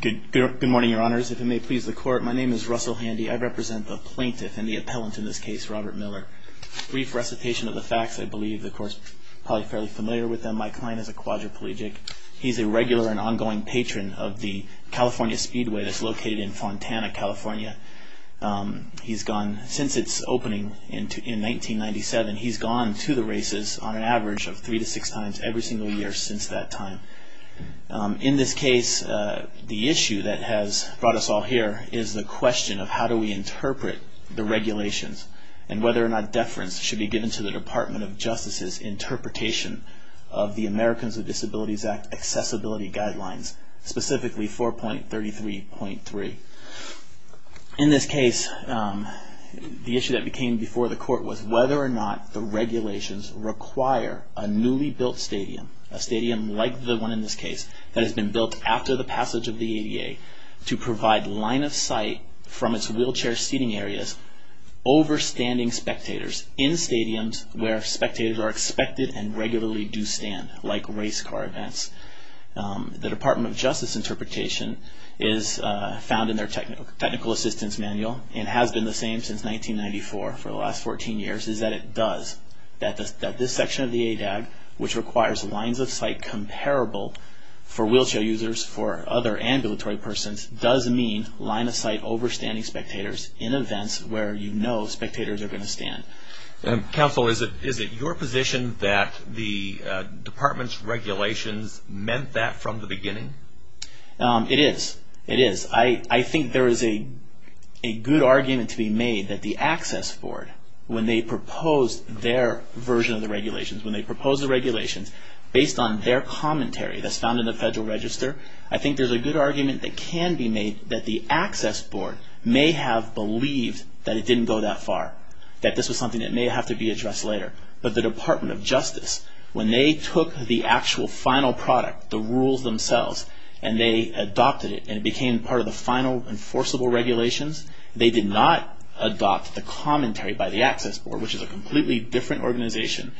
Good morning, your honors. If it may please the court, my name is Russell Handy. I represent the plaintiff and the appellant in this case, Robert Miller. Brief recitation of the facts, I believe. The court's probably fairly familiar with them. My client is a quadriplegic. He's a regular and ongoing patron of the California Speedway that's located in Fontana, California. He's gone, since its opening in 1997, he's gone to the races on an average of three to six times every single year since that time. In this case, the issue that has brought us all here is the question of how do we interpret the regulations and whether or not deference should be given to the Department of Justice's interpretation of the Americans with Disabilities Act accessibility guidelines, specifically 4.33.3. In this case, the issue that became before the court was whether or not the regulations require a newly built state stadium, a stadium like the one in this case that has been built after the passage of the ADA to provide line of sight from its wheelchair seating areas over standing spectators in stadiums where spectators are expected and regularly do stand, like race car events. The Department of Justice interpretation is found in their technical assistance manual and has been the same since 1994 for the last 14 years is that it does, that this section of the ADAG, which requires lines of sight comparable for wheelchair users, for other ambulatory persons, does mean line of sight over standing spectators in events where you know spectators are going to stand. Counsel, is it your position that the Department's regulations meant that from the beginning? It is. It is. I think there is a good argument to be made that the Access Board, when they proposed their version of the regulations, when they proposed the regulations based on their commentary that's found in the Federal Register, I think there's a good argument that can be made that the Access Board may have believed that it didn't go that far, that this was something that may have to be addressed later. But the Department of Justice and they adopted it and it became part of the final enforceable regulations. They did not adopt the commentary by the Access Board, which is a completely different organization.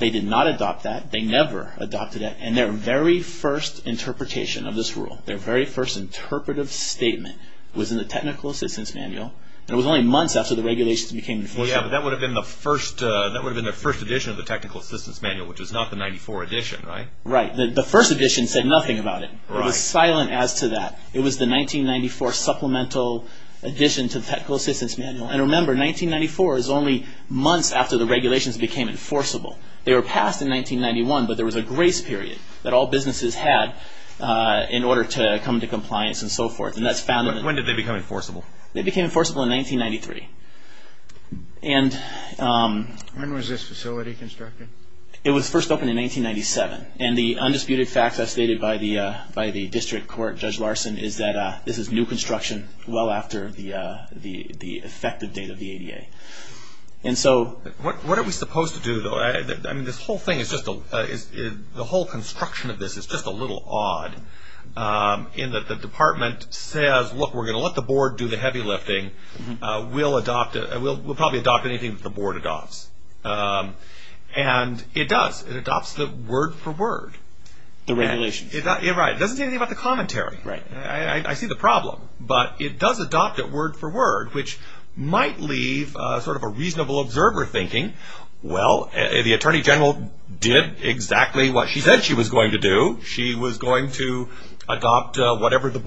They did not adopt that. They never adopted that. And their very first interpretation of this rule, their very first interpretive statement was in the technical assistance manual. It was only months after the regulations became enforceable. Well, yeah, but that would have been the first edition of the technical assistance manual, which is not the 94 edition, right? Right. The first edition said nothing about it. It was silent as to that. It was the 1994 supplemental edition to the technical assistance manual. And remember, 1994 is only months after the regulations became enforceable. They were passed in 1991, but there was a grace period that all businesses had in order to come to compliance and so forth. And that's found in the... When did they become enforceable? They became enforceable in 1993. When was this facility constructed? It was first opened in 1997. And the undisputed fact as stated by the district court, Judge Larson, is that this is new construction well after the effective date of the ADA. And so... What are we supposed to do, though? I mean, this whole thing is just a... The whole construction of this is just a little odd. In that the department says, look, we're going to let the board do the heavy lifting. We'll probably adopt anything that the board adopts. And it does. It adopts the word for word. The regulations. Right. It doesn't say anything about the commentary. I see the problem. But it does adopt it word for word, which might leave sort of a reasonable observer thinking, well, the attorney general did exactly what she said she was going to do. She was going to adopt whatever the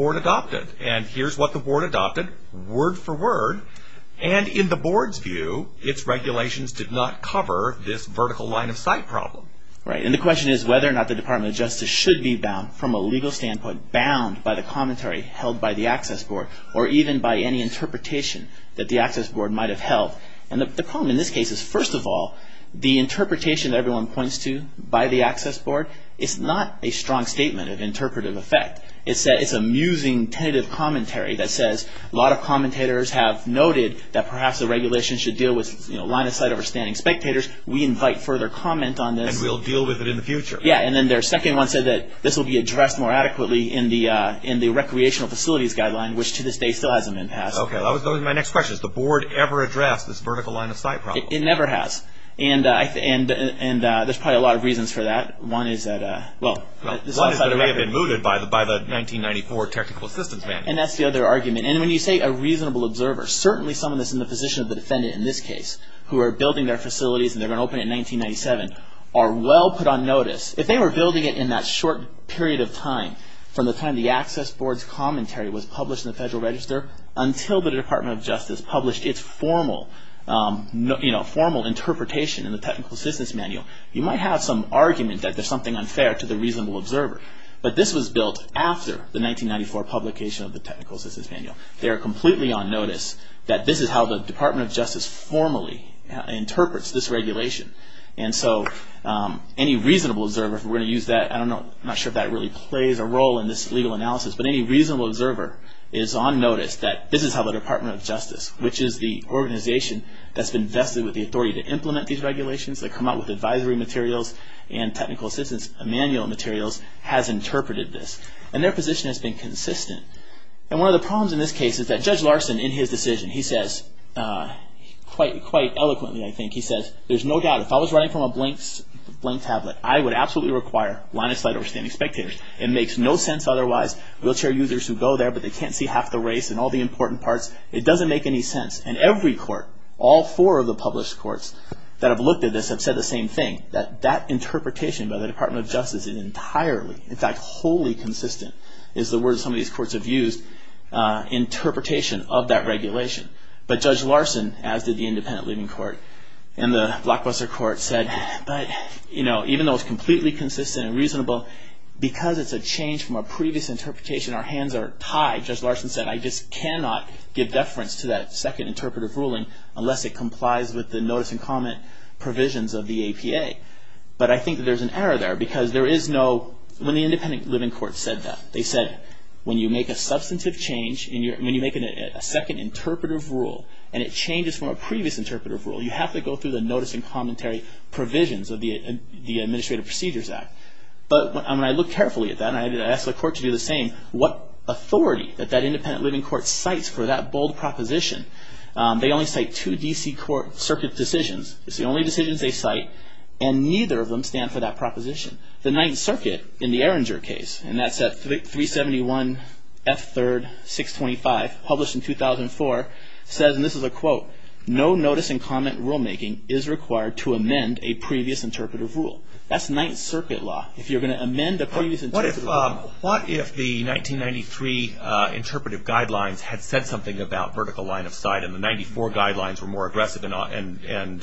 this vertical line of sight problem. Right. And the question is whether or not the Department of Justice should be bound, from a legal standpoint, bound by the commentary held by the Access Board, or even by any interpretation that the Access Board might have held. And the problem in this case is, first of all, the interpretation that everyone points to by the Access Board is not a strong statement of interpretive effect. It's a musing, tentative commentary that says a lot of commentators have noted that perhaps the regulation should deal with line of sight over standing spectators. We invite further comment on this. And we'll deal with it in the future. Yeah. And then their second one said that this will be addressed more adequately in the Recreational Facilities Guideline, which to this day still has a min pass. Okay. That was my next question. Has the board ever addressed this vertical line of sight problem? It never has. And there's probably a lot of reasons for that. One is that... One is that it may have been mooted by the 1994 Technical Assistance Manual. And that's the other argument. And when you say a reasonable observer, certainly someone that's in the position of the defendant in this case, who are building their facilities and they're going to open it in 1997, are well put on notice. If they were building it in that short period of time, from the time the Access Board's commentary was published in the Federal Register until the Department of Justice published its formal interpretation in the Technical Assistance Manual, you might have some argument that there's something unfair to the reasonable observer. But this was built after the 1994 publication of the Technical Assistance Manual. They are completely on notice that this is how the Department of Justice formally interprets this regulation. And so any reasonable observer, if we're going to use that, I'm not sure if that really plays a role in this legal analysis, but any reasonable observer is on notice that this is how the Department of Justice, which is the organization that's been vested with the authority to implement these regulations, that come out with advisory materials and technical assistance manual materials, has interpreted this. And their position has been consistent. And one of the problems in this case is that Judge Larson, in his decision, he says quite eloquently, I think, he says, there's no doubt if I was writing from a blank tablet, I would absolutely require line and slide overstanding spectators. It makes no sense otherwise. Wheelchair users who go there, but they can't see half the race and all the important parts, it doesn't make any sense. And every court, all four of the published courts that have looked at this have said the same thing, that that interpretation by the Department of Justice is entirely, in fact, wholly consistent, is the word some of these courts have used, interpretation of that regulation. But Judge Larson, as did the Independent Living Court and the Blockbuster Court, said, but even though it's completely consistent and reasonable, because it's a change from a previous interpretation, our hands are tied. And Judge Larson said, I just cannot give deference to that second interpretive ruling unless it complies with the notice and comment provisions of the APA. But I think that there's an error there, because there is no, when the Independent Living Court said that, they said, when you make a substantive change, when you make a second interpretive rule, and it changes from a previous interpretive rule, you have to go through the notice and commentary provisions of the Administrative Procedures Act. But when I look carefully at that, and I ask the court to do the same, what authority that that Independent Living Court cites for that bold proposition, they only cite two D.C. court circuit decisions. It's the only decisions they cite, and neither of them stand for that proposition. The Ninth Circuit, in the Erringer case, and that's at 371 F. 3rd, 625, published in 2004, says, and this is a quote, no notice and comment rulemaking is required to amend a previous interpretive rule. That's Ninth Circuit law. If you're going to amend a previous interpretive rule. What if the 1993 interpretive guidelines had said something about vertical line of sight, and the 94 guidelines were more aggressive and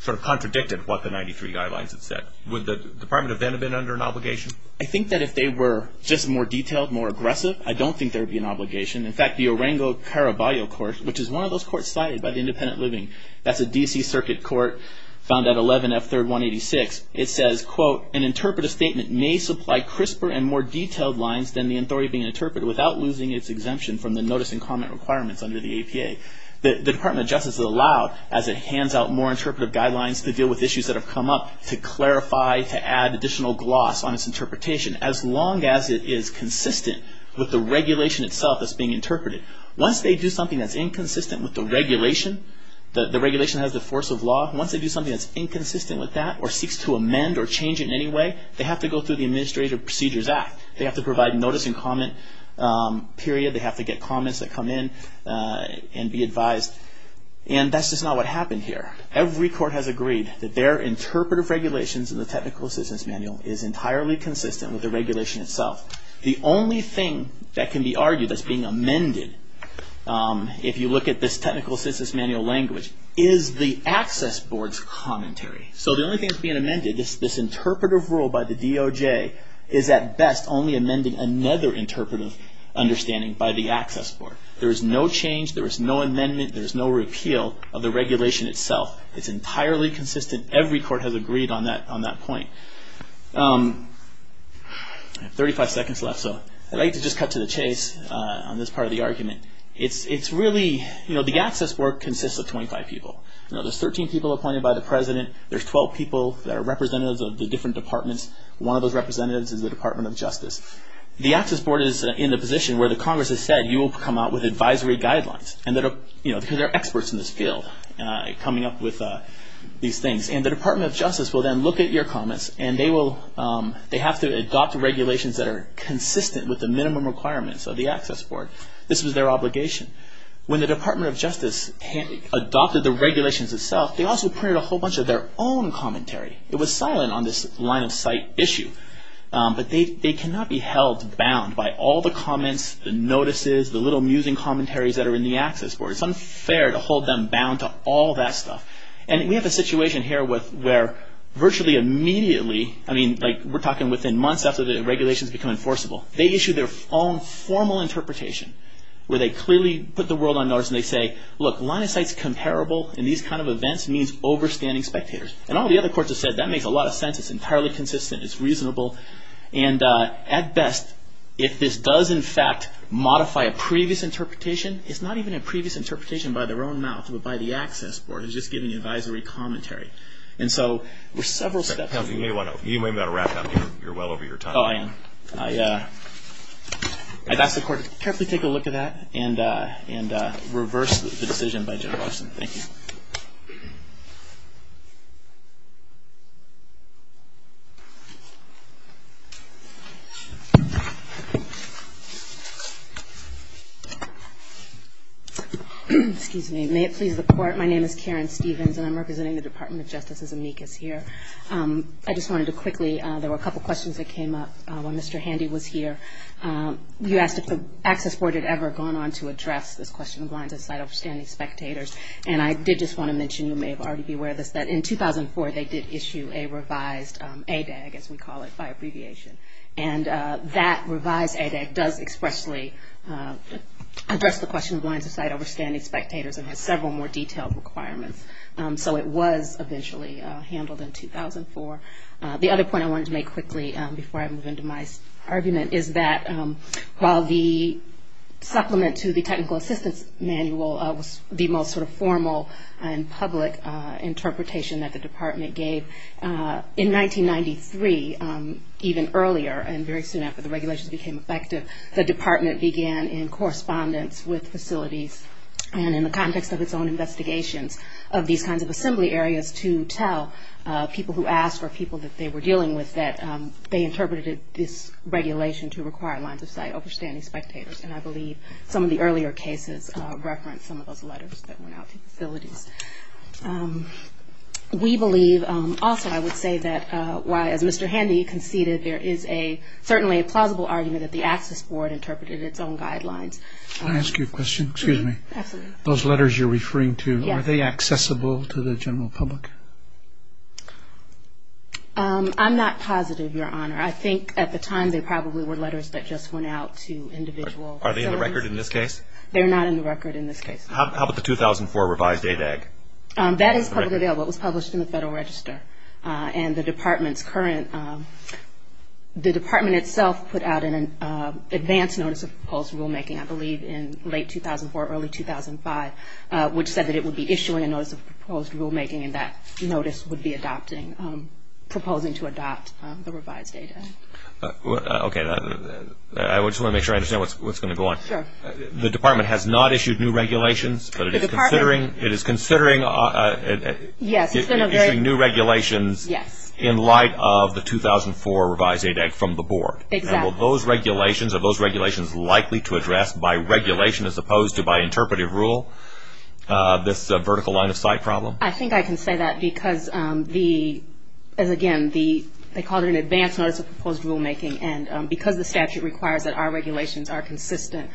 sort of contradicted what the 93 guidelines had said? Would the Department of Venom been under an obligation? I think that if they were just more detailed, more aggressive, I don't think there would be an obligation. In fact, the Erringer-Caraballo Court, which is one of those courts cited by the Independent Living, that's a D.C. circuit court, found at 11 F. 3rd, 186, it says, quote, an interpretive statement may supply crisper and more detailed lines than the authority being interpreted without losing its exemption from the notice and comment requirements under the APA. The Department of Justice is allowed, as it hands out more interpretive guidelines, to deal with issues that have come up, to clarify, to add additional gloss on its interpretation, as long as it is consistent with the regulation itself that's being interpreted. Once they do something that's inconsistent with the regulation, the regulation has the force of law, once they do something that's inconsistent with that or seeks to amend or change it in any way, they have to go through the Administrative Procedures Act. They have to provide notice and comment, period. They have to get comments that come in and be advised. And that's just not what happened here. Every court has agreed that their interpretive regulations in the Technical Assistance Manual is entirely consistent with the regulation itself. The only thing that can be argued that's being amended, if you look at this Technical Assistance Manual language, is the Access Board's commentary. So the only thing that's being amended is this interpretive rule by the DOJ is at best only amending another interpretive understanding by the Access Board. There is no change. There is no amendment. There is no repeal of the regulation itself. It's entirely consistent. Every court has agreed on that point. I have 35 seconds left, so I'd like to just cut to the chase on this part of the argument. It's really, you know, the Access Board consists of 25 people. There's 13 people appointed by the President. There's 12 people that are representatives of the different departments. One of those representatives is the Department of Justice. The Access Board is in the position where the Congress has said, you will come out with advisory guidelines, because there are experts in this field coming up with these things. And the Department of Justice will then look at your comments, and they have to adopt regulations that are consistent with the minimum requirements of the Access Board. This was their obligation. When the Department of Justice adopted the regulations itself, they also printed a whole bunch of their own commentary. It was silent on this line-of-sight issue. But they cannot be held bound by all the comments, the notices, the little musing commentaries that are in the Access Board. It's unfair to hold them bound to all that stuff. And we have a situation here where virtually immediately, I mean, like we're talking within months after the regulations become enforceable, they issue their own formal interpretation, where they clearly put the world on notice, and they say, look, line-of-sight's comparable in these kind of events means overstanding spectators. And all the other courts have said, that makes a lot of sense. It's entirely consistent. It's reasonable. And at best, if this does in fact modify a previous interpretation, it's not even a previous interpretation by their own mouth, but by the Access Board. It's just giving advisory commentary. And so there's several steps. You may want to wrap up. You're well over your time. Oh, I am. I'd ask the Court to carefully take a look at that and reverse the decision by Judge Lawson. Thank you. Excuse me. May it please the Court, my name is Karen Stevens, and I'm representing the Department of Justice as amicus here. I just wanted to quickly, there were a couple of questions that came up when Mr. Handy was here. You asked if the Access Board had ever gone on to address this question of line-of-sight, overstanding spectators. And I did just want to mention, you may have already been aware of this, that in 2004 they did issue a revised ADAG, as we call it, by abbreviation. And that revised ADAG does expressly address the question of line-of-sight, overstanding spectators, and has several more detailed requirements. So it was eventually handled in 2004. The other point I wanted to make quickly, before I move into my argument, is that while the supplement to the technical assistance manual was the most sort of formal and public interpretation that the department gave, in 1993, even earlier, and very soon after the regulations became effective, the department began in correspondence with facilities and in the context of its own investigations of these kinds of assembly areas to tell people who asked or people that they were dealing with that they interpreted this regulation to require line-of-sight, overstanding spectators. And I believe some of the earlier cases reference some of those letters that went out to facilities. We believe also, I would say, that while, as Mr. Handy conceded, there is certainly a plausible argument that the Access Board interpreted its own guidelines. Can I ask you a question? Excuse me. Absolutely. Those letters you're referring to, are they accessible to the general public? I'm not positive, Your Honor. I think at the time they probably were letters that just went out to individual facilities. Are they in the record in this case? They're not in the record in this case. How about the 2004 revised ADAG? That is publicly available. It was published in the Federal Register. And the department's current, the department itself put out an advance notice of proposed rulemaking, I believe, in late 2004, early 2005, which said that it would be issuing a notice of proposed rulemaking and that notice would be adopting, proposing to adopt the revised ADAG. Okay. I just want to make sure I understand what's going to go on. Sure. The department has not issued new regulations. The department? It is considering issuing new regulations in light of the 2004 revised ADAG from the Board. Exactly. Are those regulations likely to address by regulation as opposed to by interpretive rule this vertical line of sight problem? I think I can say that because, again, they called it an advance notice of proposed rulemaking, and because the statute requires that our regulations are consistent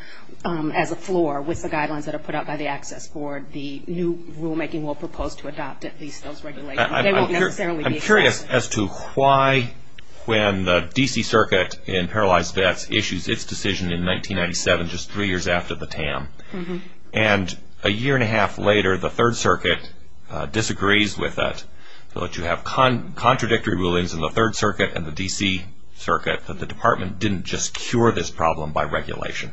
as a floor with the guidelines that are put out by the Access Board, the new rulemaking will propose to adopt at least those regulations. I'm curious as to why when the D.C. Circuit in Paralyzed Vets issues its decision in 1997, just three years after the TAM, and a year and a half later the Third Circuit disagrees with it, so that you have contradictory rulings in the Third Circuit and the D.C. Circuit, that the department didn't just cure this problem by regulation.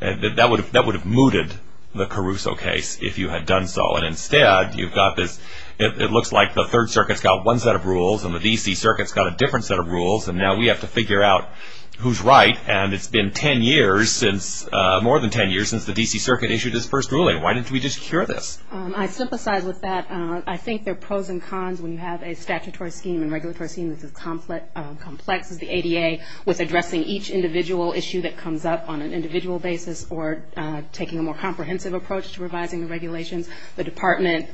That would have mooted the Caruso case if you had done so, but instead it looks like the Third Circuit's got one set of rules and the D.C. Circuit's got a different set of rules, and now we have to figure out who's right, and it's been more than 10 years since the D.C. Circuit issued its first ruling. Why didn't we just cure this? I sympathize with that. I think there are pros and cons when you have a statutory scheme and regulatory scheme that's as complex as the ADA with addressing each individual issue that comes up on an individual basis or taking a more comprehensive approach to revising the regulations. The department,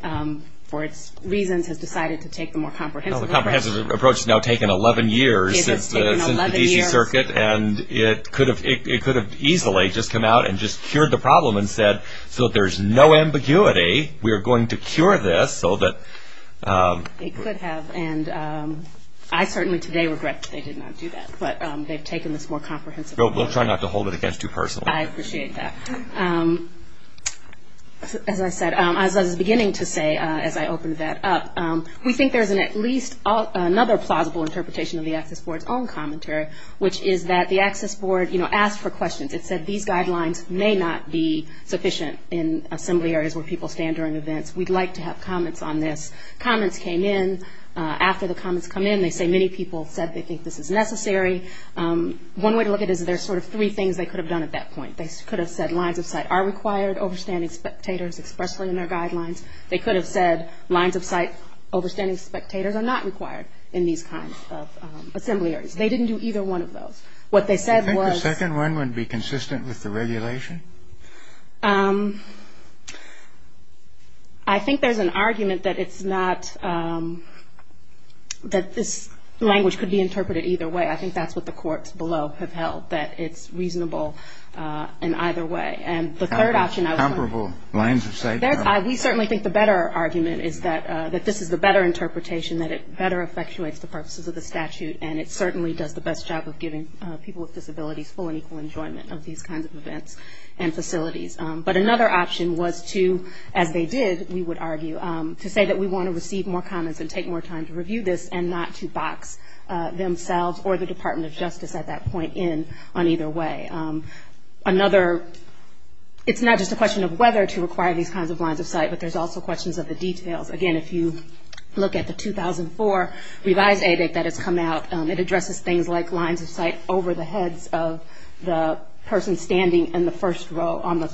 for its reasons, has decided to take the more comprehensive approach. Well, the comprehensive approach has now taken 11 years since the D.C. Circuit, and it could have easily just come out and just cured the problem and said, so that there's no ambiguity, we are going to cure this so that... It could have, and I certainly today regret that they did not do that, but they've taken this more comprehensive approach. We'll try not to hold it against you personally. I appreciate that. As I said, as I was beginning to say as I opened that up, we think there's at least another plausible interpretation of the Access Board's own commentary, which is that the Access Board asked for questions. It said these guidelines may not be sufficient in assembly areas where people stand during events. We'd like to have comments on this. Comments came in. After the comments come in, they say many people said they think this is necessary. One way to look at it is there's sort of three things they could have done at that point. They could have said lines of sight are required, overstanding spectators expressly in their guidelines. They could have said lines of sight, overstanding spectators are not required in these kinds of assembly areas. They didn't do either one of those. What they said was... Do you think the second one would be consistent with the regulation? I think there's an argument that it's not, that this language could be interpreted either way. I think that's what the courts below have held, that it's reasonable in either way. And the third option... Comparable lines of sight. We certainly think the better argument is that this is the better interpretation, that it better effectuates the purposes of the statute, and it certainly does the best job of giving people with disabilities full and equal enjoyment of these kinds of events and facilities. But another option was to, as they did, we would argue, to say that we want to receive more comments and take more time to review this and not to box themselves or the Department of Justice at that point in on either way. Another, it's not just a question of whether to require these kinds of lines of sight, but there's also questions of the details. Again, if you look at the 2004 revised ABIC that has come out, it addresses things like lines of sight over the heads of the person standing in the first row,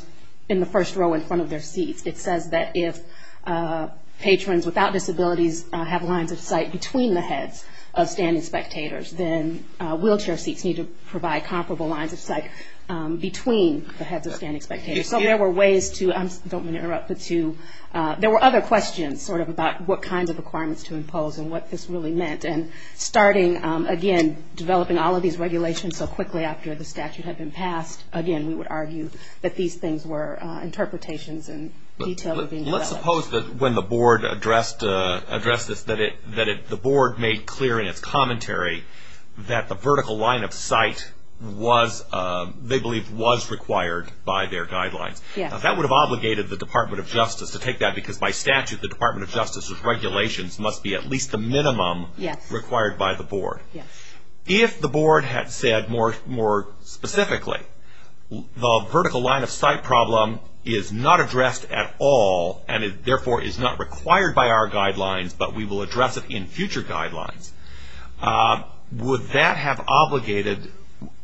in the first row in front of their seats. It says that if patrons without disabilities have lines of sight between the heads of standing spectators, then wheelchair seats need to provide comparable lines of sight between the heads of standing spectators. So there were ways to... I don't mean to interrupt, but to... There were other questions sort of about what kinds of requirements to impose and what this really meant. And starting, again, developing all of these regulations so quickly after the statute had been passed, again, we would argue that these things were interpretations and details were being developed. Let's suppose that when the board addressed this, that the board made clear in its commentary that the vertical line of sight was, they believed was required by their guidelines. Yes. That would have obligated the Department of Justice to take that because by statute the Department of Justice's regulations must be at least the minimum required by the board. Yes. If the board had said more specifically, the vertical line of sight problem is not addressed at all and it therefore is not required by our guidelines but we will address it in future guidelines, would that have obligated,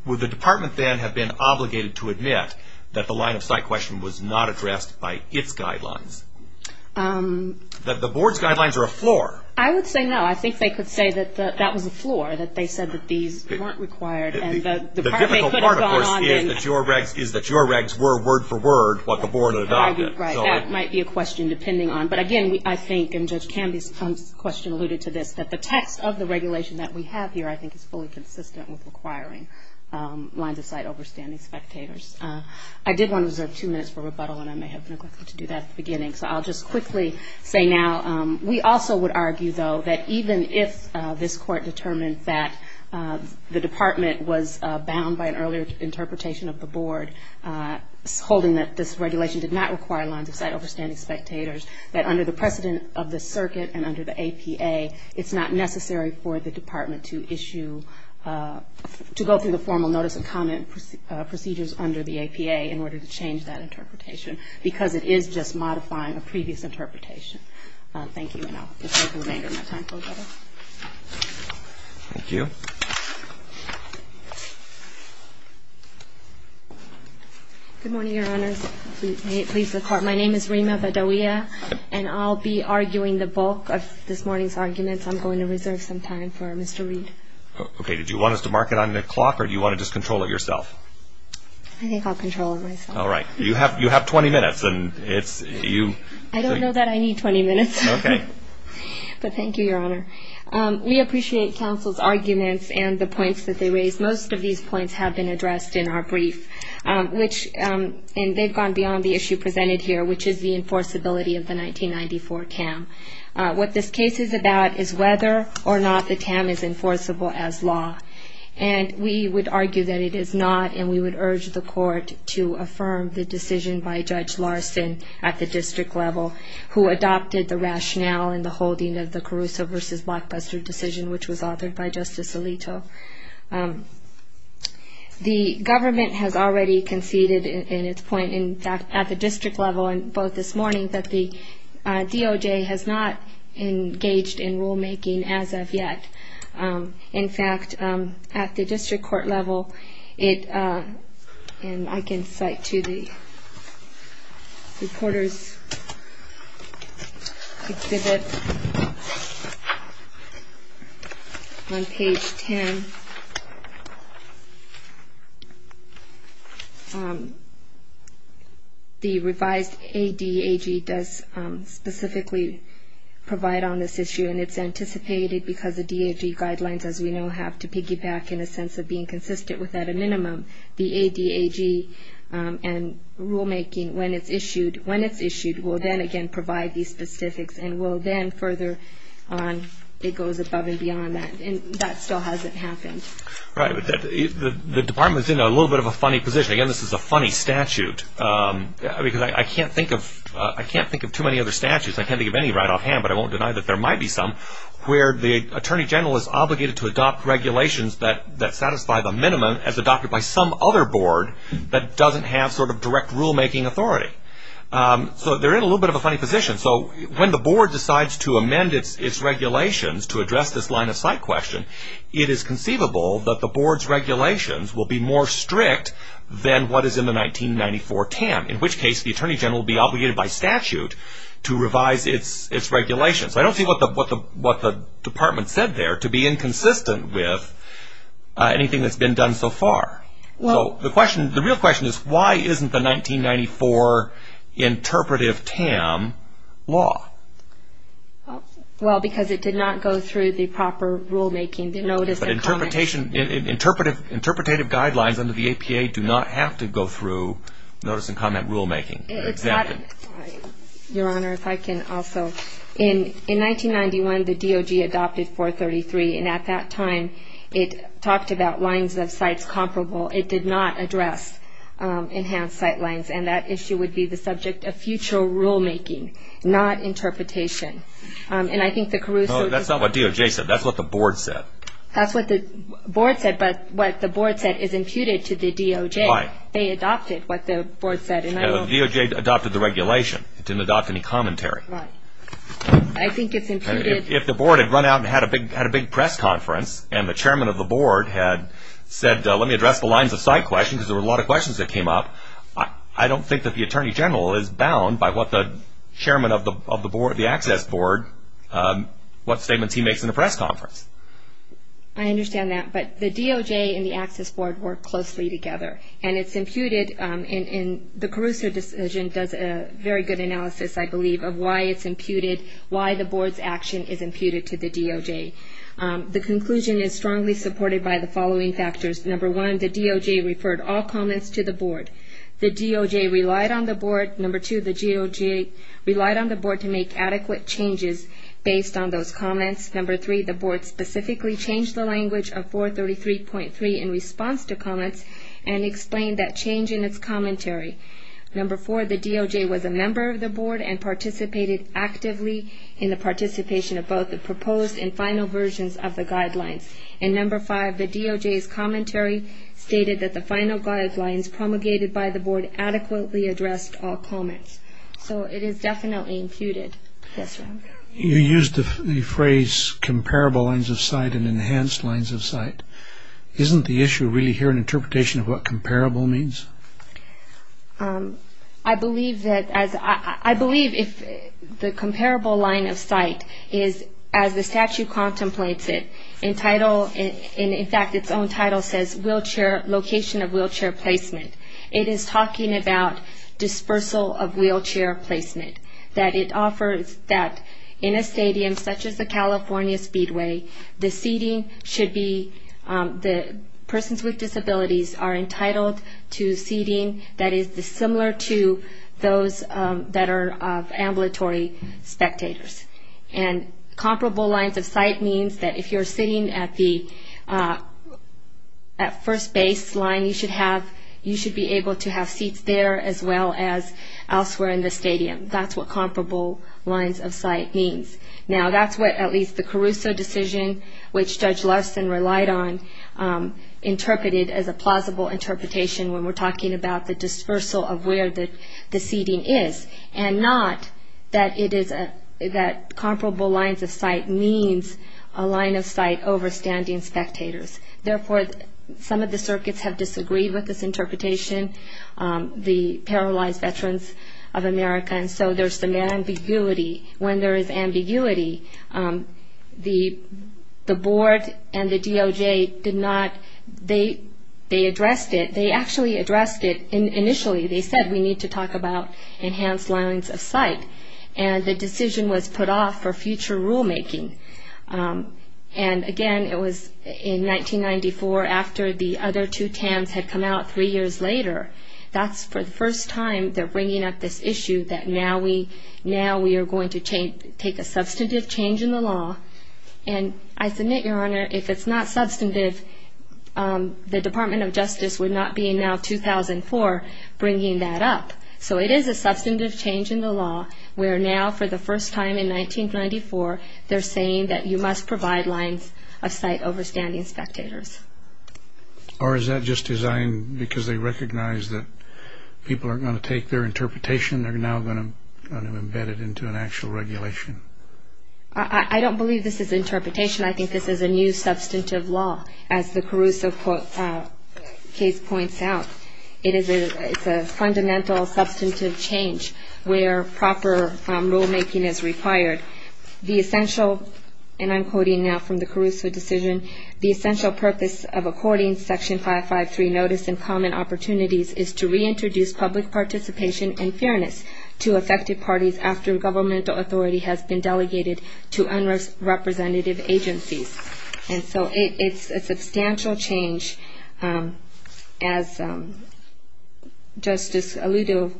would the department then have been obligated to admit that the line of sight question was not addressed by its guidelines? That the board's guidelines are a floor? I would say no. I think they could say that that was a floor, that they said that these weren't required. The difficult part, of course, is that your regs were word for word what the board adopted. Right. That might be a question depending on. But again, I think, and Judge Camby's question alluded to this, that the text of the regulation that we have here I think is fully consistent with requiring lines of sight over standing spectators. I did want to reserve two minutes for rebuttal and I may have neglected to do that at the beginning. So I'll just quickly say now. We also would argue, though, that even if this court determined that the department was bound by an earlier interpretation of the board, holding that this regulation did not require lines of sight over standing spectators, that under the precedent of the circuit and under the APA, it's not necessary for the department to issue, to go through the formal notice of comment procedures under the APA in order to change that interpretation because it is just modifying a previous interpretation. Thank you. And I'll just take the remainder of my time for rebuttal. Thank you. Good morning, Your Honors. May it please the Court. My name is Rima Bedoya and I'll be arguing the bulk of this morning's arguments. I'm going to reserve some time for Mr. Reed. Okay. Did you want us to mark it on the clock or do you want to just control it yourself? I think I'll control it myself. All right. You have 20 minutes and it's you. I don't know that I need 20 minutes. Okay. But thank you, Your Honor. We appreciate counsel's arguments and the points that they raise. Most of these points have been addressed in our brief, and they've gone beyond the issue presented here, which is the enforceability of the 1994 CAM. What this case is about is whether or not the CAM is enforceable as law, and we would argue that it is not, and we would urge the Court to affirm the decision by Judge Larson at the district level, who adopted the rationale in the holding of the Caruso v. Blockbuster decision, which was authored by Justice Alito. The government has already conceded in its point at the district level and both this morning that the DOJ has not engaged in rulemaking as of yet. In fact, at the district court level, and I can cite to the reporter's exhibit on page 10, the revised ADAG does specifically provide on this issue, and it's anticipated because the DAG guidelines, as we know, have to piggyback in a sense of being consistent with at a minimum. The ADAG and rulemaking, when it's issued, will then again provide these specifics and will then further on it goes above and beyond that, and that still hasn't happened. Right. The Department's in a little bit of a funny position. Again, this is a funny statute, because I can't think of too many other statutes. I can't think of any right offhand, but I won't deny that there might be some, where the Attorney General is obligated to adopt regulations that satisfy the minimum as adopted by some other board that doesn't have sort of direct rulemaking authority. So they're in a little bit of a funny position. So when the board decides to amend its regulations to address this line-of-sight question, it is conceivable that the board's regulations will be more strict than what is in the 1994 TAM, in which case the Attorney General will be obligated by statute to revise its regulations. I don't see what the Department said there to be inconsistent with anything that's been done so far. The real question is, why isn't the 1994 interpretive TAM law? Well, because it did not go through the proper rulemaking. Interpretative guidelines under the APA do not have to go through notice-and-comment rulemaking. Your Honor, if I can also. In 1991, the DOJ adopted 433, and at that time it talked about lines-of-sight comparable. It did not address enhanced sight lines, and that issue would be the subject of future rulemaking, not interpretation. No, that's not what DOJ said. That's what the board said. That's what the board said, but what the board said is imputed to the DOJ. Right. They adopted what the board said. The DOJ adopted the regulation. It didn't adopt any commentary. Right. I think it's imputed. If the board had run out and had a big press conference, and the chairman of the board had said, let me address the lines-of-sight question, because there were a lot of questions that came up, I don't think that the attorney general is bound by what the chairman of the access board, what statements he makes in a press conference. I understand that, but the DOJ and the access board work closely together, and it's imputed in the Caruso decision does a very good analysis, I believe, of why it's imputed, why the board's action is imputed to the DOJ. The conclusion is strongly supported by the following factors. Number one, the DOJ referred all comments to the board. The DOJ relied on the board. Number two, the DOJ relied on the board to make adequate changes based on those comments. Number three, the board specifically changed the language of 433.3 in response to comments and explained that change in its commentary. Number four, the DOJ was a member of the board and participated actively in the participation of both the proposed and final versions of the guidelines. And number five, the DOJ's commentary stated that the final guidelines promulgated by the board adequately addressed all comments. So it is definitely imputed. You used the phrase comparable lines of sight and enhanced lines of sight. Isn't the issue really here an interpretation of what comparable means? I believe if the comparable line of sight is, as the statute contemplates it, in fact its own title says location of wheelchair placement, it is talking about dispersal of wheelchair placement, that it offers that in a stadium such as the California Speedway, the seating should be the persons with disabilities are entitled to seating that is similar to those that are ambulatory spectators. And comparable lines of sight means that if you're sitting at the first baseline, you should be able to have seats there as well as elsewhere in the stadium. That's what comparable lines of sight means. Now, that's what at least the Caruso decision, which Judge Larson relied on, interpreted as a plausible interpretation when we're talking about the dispersal of where the seating is, and not that comparable lines of sight means a line of sight over standing spectators. Therefore, some of the circuits have disagreed with this interpretation, the paralyzed veterans of America, and so there's some ambiguity. When there is ambiguity, the board and the DOJ did not, they addressed it. They actually addressed it initially. They said we need to talk about enhanced lines of sight, and the decision was put off for future rulemaking. And, again, it was in 1994 after the other two TAMs had come out three years later. That's for the first time they're bringing up this issue that now we are going to take a substantive change in the law. And I submit, Your Honor, if it's not substantive, the Department of Justice would not be in now 2004 bringing that up. So it is a substantive change in the law where now for the first time in 1994, they're saying that you must provide lines of sight over standing spectators. Or is that just designed because they recognize that people are going to take their interpretation and they're now going to embed it into an actual regulation? I don't believe this is interpretation. I think this is a new substantive law, as the Caruso case points out. It is a fundamental substantive change where proper rulemaking is required. The essential, and I'm quoting now from the Caruso decision, the essential purpose of according Section 553 notice and common opportunities is to reintroduce public participation and fairness to affected parties after governmental authority has been delegated to unrepresentative agencies. And so it's a substantial change. As Justice Alito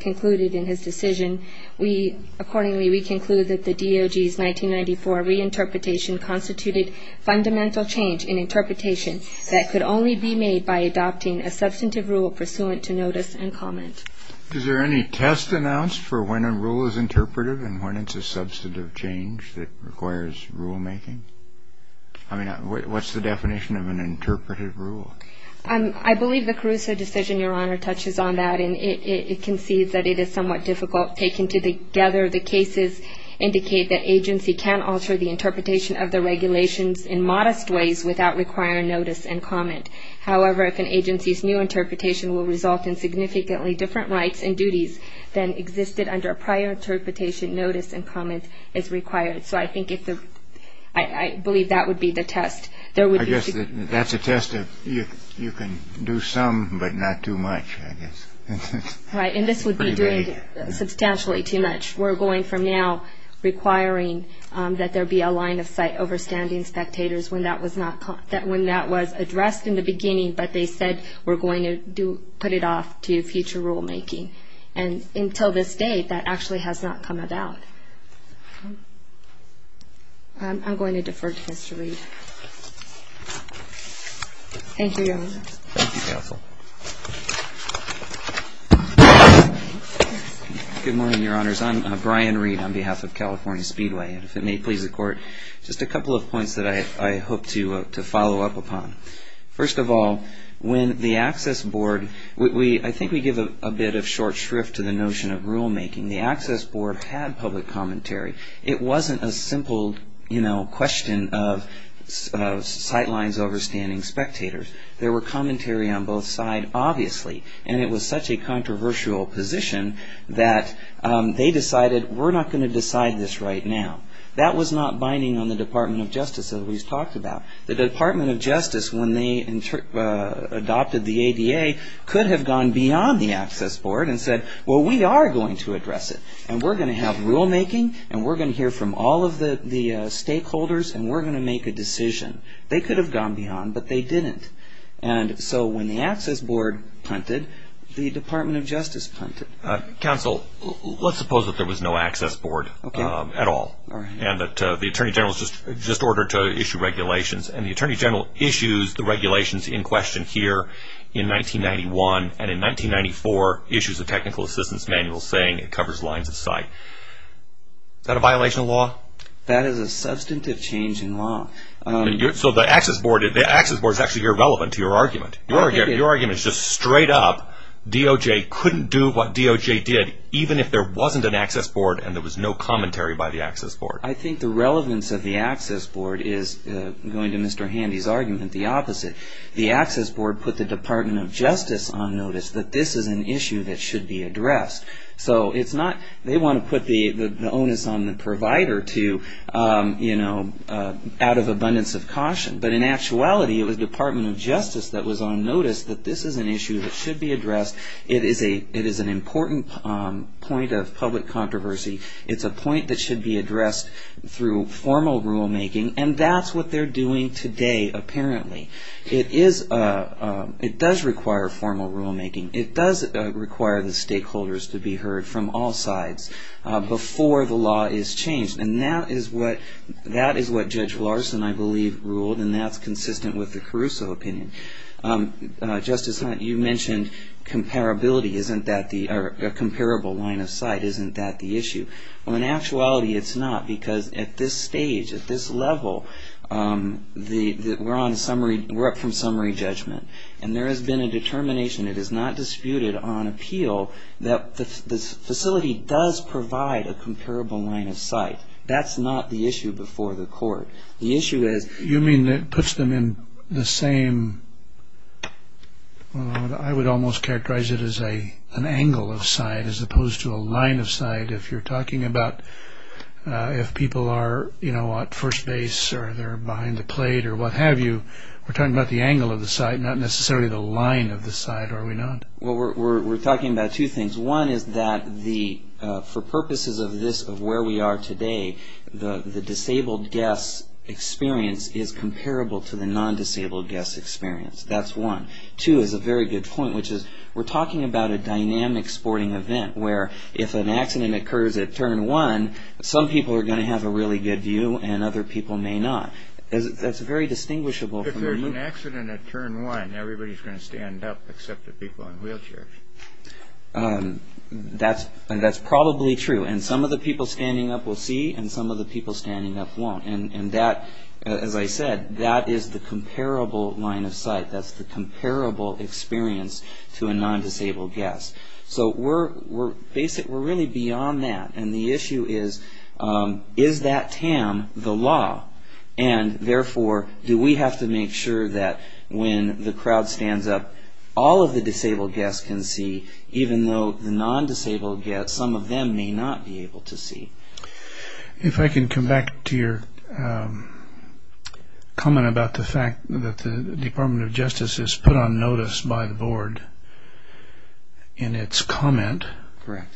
concluded in his decision, we accordingly, we conclude that the DOJ's 1994 reinterpretation constituted fundamental change in interpretation that could only be made by adopting a substantive rule pursuant to notice and comment. Is there any test announced for when a rule is interpretive and when it's a substantive change that requires rulemaking? I mean, what's the definition of an interpretive rule? I believe the Caruso decision, Your Honor, touches on that, and it concedes that it is somewhat difficult taken together. The cases indicate that agency can alter the interpretation of the regulations in modest ways without requiring notice and comment. However, if an agency's new interpretation will result in significantly different rights and duties than existed under a prior interpretation, notice and comment is required. So I think if the, I believe that would be the test. I guess that's a test of you can do some but not too much, I guess. Right, and this would be doing substantially too much. We're going from now requiring that there be a line of sight over standing spectators when that was addressed in the beginning but they said we're going to put it off to future rulemaking. And until this date, that actually has not come about. I'm going to defer to Mr. Reed. Thank you, Your Honor. Thank you, Counsel. Good morning, Your Honors. I'm Brian Reed on behalf of California Speedway, and if it may please the Court, just a couple of points that I hope to follow up upon. First of all, when the Access Board, I think we give a bit of short shrift to the notion of rulemaking. The Access Board had public commentary. It wasn't a simple question of sight lines over standing spectators. There were commentary on both sides, obviously, and it was such a controversial position that they decided we're not going to decide this right now. That was not binding on the Department of Justice as we've talked about. The Department of Justice, when they adopted the ADA, could have gone beyond the Access Board and said, well, we are going to address it, and we're going to have rulemaking, and we're going to hear from all of the stakeholders, and we're going to make a decision. They could have gone beyond, but they didn't. And so when the Access Board punted, the Department of Justice punted. Counsel, let's suppose that there was no Access Board at all and that the Attorney General was just ordered to issue regulations, and the Attorney General issues the regulations in question here in 1991, and in 1994 issues a technical assistance manual saying it covers lines of sight. Is that a violation of law? That is a substantive change in law. So the Access Board is actually irrelevant to your argument. Your argument is just straight up, DOJ couldn't do what DOJ did, even if there wasn't an Access Board and there was no commentary by the Access Board. I think the relevance of the Access Board is, going to Mr. Handy's argument, the opposite. The Access Board put the Department of Justice on notice that this is an issue that should be addressed. So it's not they want to put the onus on the provider to, you know, out of abundance of caution. But in actuality, it was the Department of Justice that was on notice that this is an issue that should be addressed. It is an important point of public controversy. It's a point that should be addressed through formal rulemaking, and that's what they're doing today, apparently. It does require formal rulemaking. It does require the stakeholders to be heard from all sides before the law is changed, and that is what Judge Larson, I believe, ruled, and that's consistent with the Caruso opinion. Justice Hunt, you mentioned comparability, or a comparable line of sight. Isn't that the issue? Well, in actuality, it's not, because at this stage, at this level, we're up from summary judgment, and there has been a determination, it is not disputed on appeal, that the facility does provide a comparable line of sight. That's not the issue before the court. You mean it puts them in the same, I would almost characterize it as an angle of sight, as opposed to a line of sight, if you're talking about if people are at first base, or they're behind the plate, or what have you. We're talking about the angle of the sight, not necessarily the line of the sight, are we not? Well, we're talking about two things. One is that for purposes of where we are today, the disabled guest experience is comparable to the non-disabled guest experience. That's one. Two is a very good point, which is we're talking about a dynamic sporting event, where if an accident occurs at turn one, some people are going to have a really good view, and other people may not. That's very distinguishable. If there's an accident at turn one, everybody's going to stand up except the people in wheelchairs. That's probably true. And some of the people standing up will see, and some of the people standing up won't. And that, as I said, that is the comparable line of sight. That's the comparable experience to a non-disabled guest. So we're really beyond that. And the issue is, is that TAM the law? And, therefore, do we have to make sure that when the crowd stands up, all of the disabled guests can see, even though the non-disabled guests, some of them may not be able to see. If I can come back to your comment about the fact that the Department of Justice is put on notice by the board in its comment. Correct.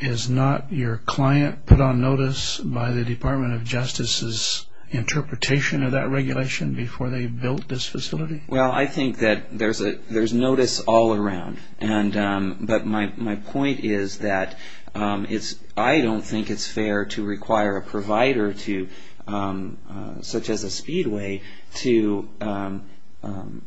Is not your client put on notice by the Department of Justice's interpretation of that regulation before they built this facility? Well, I think that there's notice all around. But my point is that I don't think it's fair to require a provider, such as a Speedway, to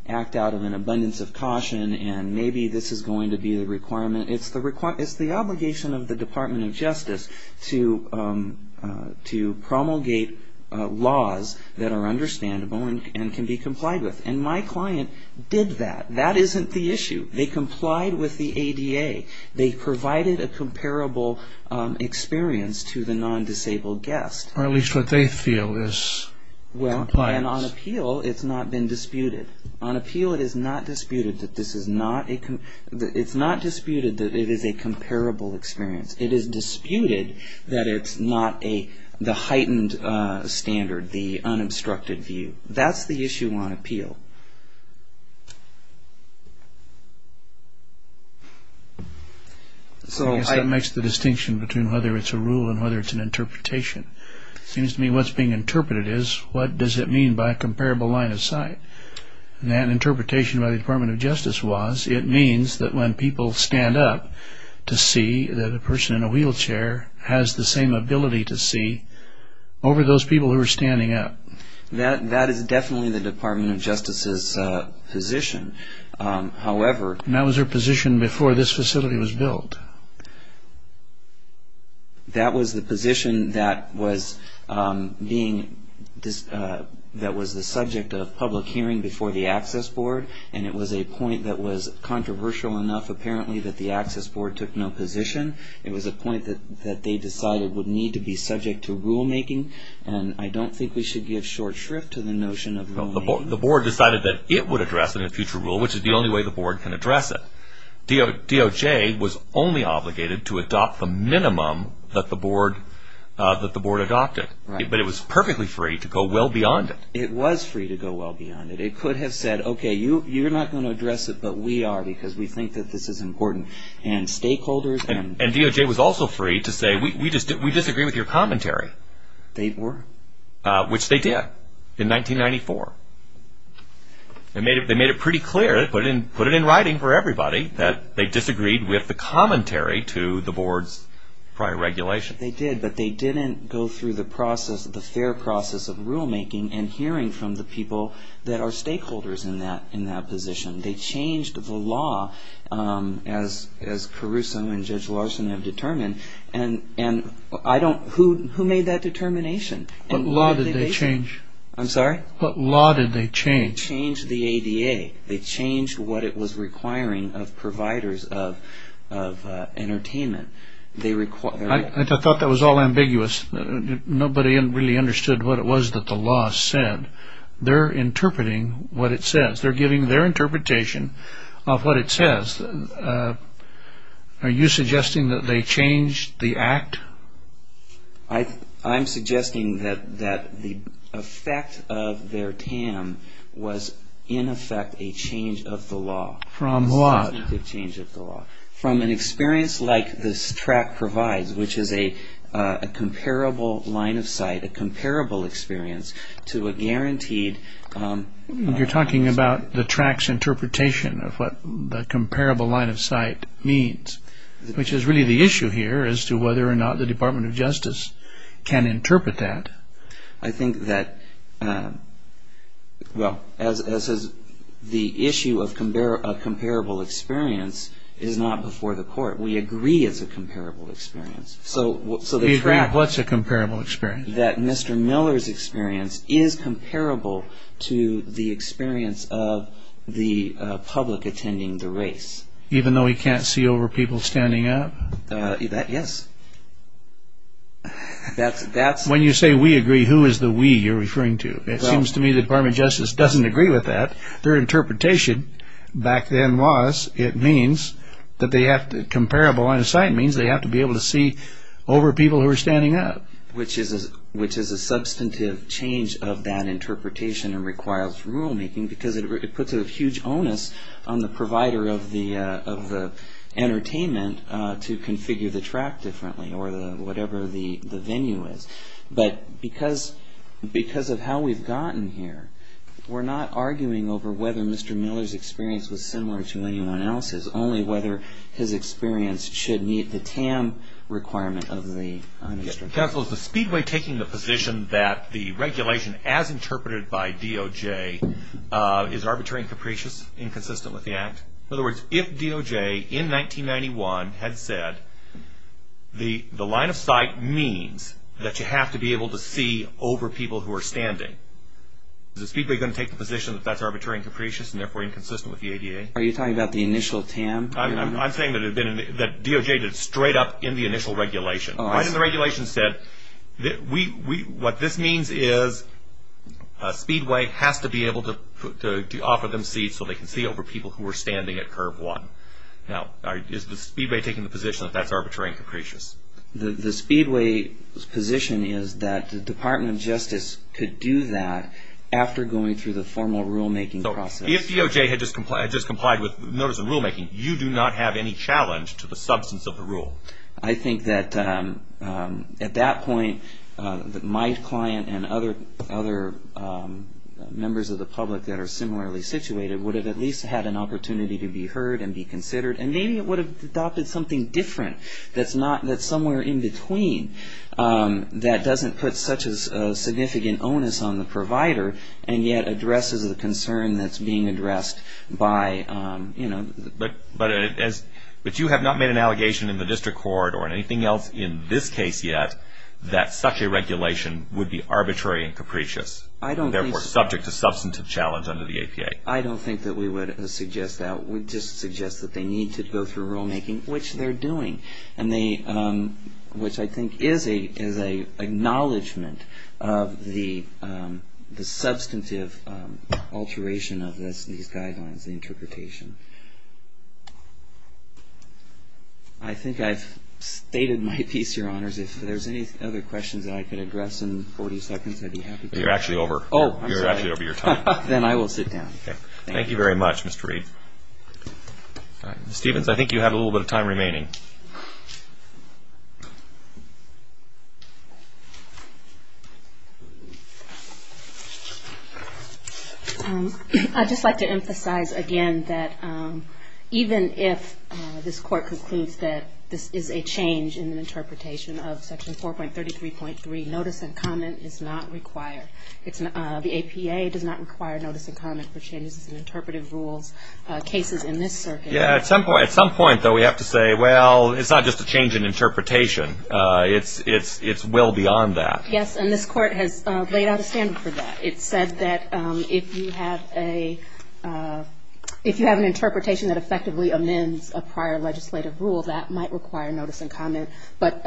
act out of an abundance of caution, and maybe this is going to be the requirement. It's the obligation of the Department of Justice to promulgate laws that are understandable and can be complied with. And my client did that. That isn't the issue. They complied with the ADA. They provided a comparable experience to the non-disabled guest. Or at least what they feel is compliance. Well, and on appeal, it's not been disputed. On appeal, it is not disputed that it is a comparable experience. It is disputed that it's not the heightened standard, the unobstructed view. That's the issue on appeal. I guess that makes the distinction between whether it's a rule and whether it's an interpretation. It seems to me what's being interpreted is, what does it mean by a comparable line of sight? And that interpretation by the Department of Justice was, it means that when people stand up to see that a person in a wheelchair has the same ability to see over those people who are standing up. That is definitely the Department of Justice's position. However... And that was their position before this facility was built. That was the position that was being, that was the subject of public hearing before the Access Board. And it was a point that was controversial enough, apparently, that the Access Board took no position. It was a point that they decided would need to be subject to rulemaking. And I don't think we should give short shrift to the notion of rulemaking. The Board decided that it would address it in future rule, which is the only way the Board can address it. DOJ was only obligated to adopt the minimum that the Board adopted. But it was perfectly free to go well beyond it. It was free to go well beyond it. It could have said, okay, you're not going to address it, but we are, because we think that this is important. And stakeholders... And DOJ was also free to say, we disagree with your commentary. They were? Which they did, in 1994. They made it pretty clear, put it in writing for everybody, that they disagreed with the commentary to the Board's prior regulation. They did, but they didn't go through the process, the fair process of rulemaking and hearing from the people that are stakeholders in that position. They changed the law, as Caruso and Judge Larson have determined. And I don't, who made that determination? What law did they change? I'm sorry? What law did they change? They changed the ADA. They changed what it was requiring of providers of entertainment. I thought that was all ambiguous. Nobody really understood what it was that the law said. They're interpreting what it says. They're giving their interpretation of what it says. Are you suggesting that they changed the act? I'm suggesting that the effect of their TAM was, in effect, a change of the law. From what? A change of the law. From an experience like this tract provides, which is a comparable line of sight, a comparable experience, to a guaranteed... You're talking about the tract's interpretation of what the comparable line of sight means. Which is really the issue here as to whether or not the Department of Justice can interpret that. I think that, well, as the issue of a comparable experience is not before the court. We agree it's a comparable experience. The tract, what's a comparable experience? That Mr. Miller's experience is comparable to the experience of the public attending the race. Even though he can't see over people standing up? Yes. When you say we agree, who is the we you're referring to? It seems to me the Department of Justice doesn't agree with that. Their interpretation back then was it means that they have to... Comparable line of sight means they have to be able to see over people who are standing up. Which is a substantive change of that interpretation and requires rulemaking because it puts a huge onus on the provider of the entertainment to configure the tract differently, or whatever the venue is. But because of how we've gotten here, we're not arguing over whether Mr. Miller's experience was similar to anyone else's, only whether his experience should meet the TAM requirement of the... Counsel, is the Speedway taking the position that the regulation, as interpreted by DOJ, is arbitrary and capricious, inconsistent with the Act? In other words, if DOJ in 1991 had said the line of sight means that you have to be able to see over people who are standing, is the Speedway going to take the position that that's arbitrary and capricious and therefore inconsistent with the ADA? Are you talking about the initial TAM? I'm saying that DOJ did it straight up in the initial regulation. Right in the regulation said, what this means is Speedway has to be able to offer them seats so they can see over people who are standing at curve one. Now, is the Speedway taking the position that that's arbitrary and capricious? The Speedway's position is that the Department of Justice could do that after going through the formal rulemaking process. If DOJ had just complied with notice of rulemaking, you do not have any challenge to the substance of the rule. I think that at that point, my client and other members of the public that are similarly situated would have at least had an opportunity to be heard and be considered, and maybe it would have adopted something different that's somewhere in between that doesn't put such a significant onus on the provider and yet addresses the concern that's being addressed by, you know. But you have not made an allegation in the district court or anything else in this case yet that such a regulation would be arbitrary and capricious, and therefore subject to substantive challenge under the APA. I don't think that we would suggest that. We just suggest that they need to go through rulemaking, which they're doing, which I think is an acknowledgment of the substantive alteration of these guidelines, the interpretation. I think I've stated my piece, Your Honors. If there's any other questions that I could address in 40 seconds, I'd be happy to. You're actually over. Oh, I'm sorry. You're actually over your time. Then I will sit down. Thank you very much, Mr. Reed. All right. Ms. Stevens, I think you have a little bit of time remaining. I'd just like to emphasize again that even if this court concludes that this is a change in the interpretation of Section 4.33.3, notice and comment is not required. The APA does not require notice and comment for changes in interpretive rules, cases in this circuit. Yeah, at some point, though, we have to say, well, it's not just a change in interpretation. It's well beyond that. Yes, and this court has laid out a standard for that. It said that if you have an interpretation that effectively amends a prior legislative rule, that might require notice and comment, but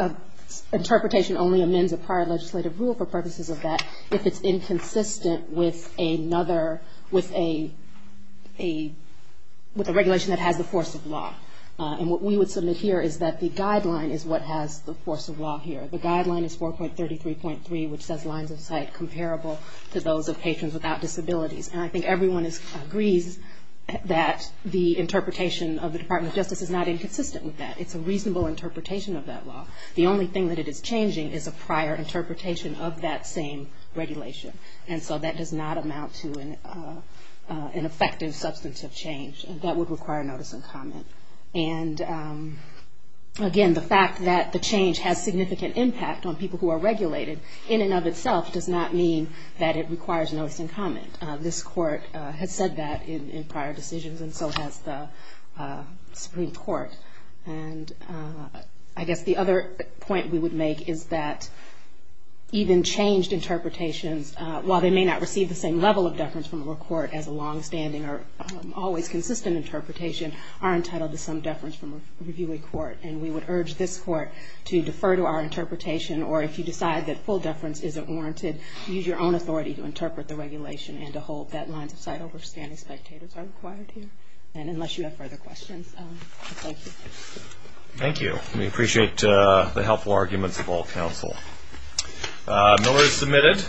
interpretation only amends a prior legislative rule for purposes of that if it's inconsistent with another, with a regulation that has the force of law. And what we would submit here is that the guideline is what has the force of law here. The guideline is 4.33.3, which says lines of sight comparable to those of patrons without disabilities. And I think everyone agrees that the interpretation of the Department of Justice is not inconsistent with that. It's a reasonable interpretation of that law. The only thing that it is changing is a prior interpretation of that same regulation. And so that does not amount to an effective substantive change. That would require notice and comment. And, again, the fact that the change has significant impact on people who are regulated in and of itself does not mean that it requires notice and comment. This court has said that in prior decisions, and so has the Supreme Court. And I guess the other point we would make is that even changed interpretations, while they may not receive the same level of deference from a court as a longstanding or always consistent interpretation, are entitled to some deference from a reviewer court. And we would urge this court to defer to our interpretation, or if you decide that full deference isn't warranted, use your own authority to interpret the regulation and to hold deadlines of sight over standing spectators are required here. And unless you have further questions, thank you. Thank you. We appreciate the helpful arguments of all counsel. Miller is submitted.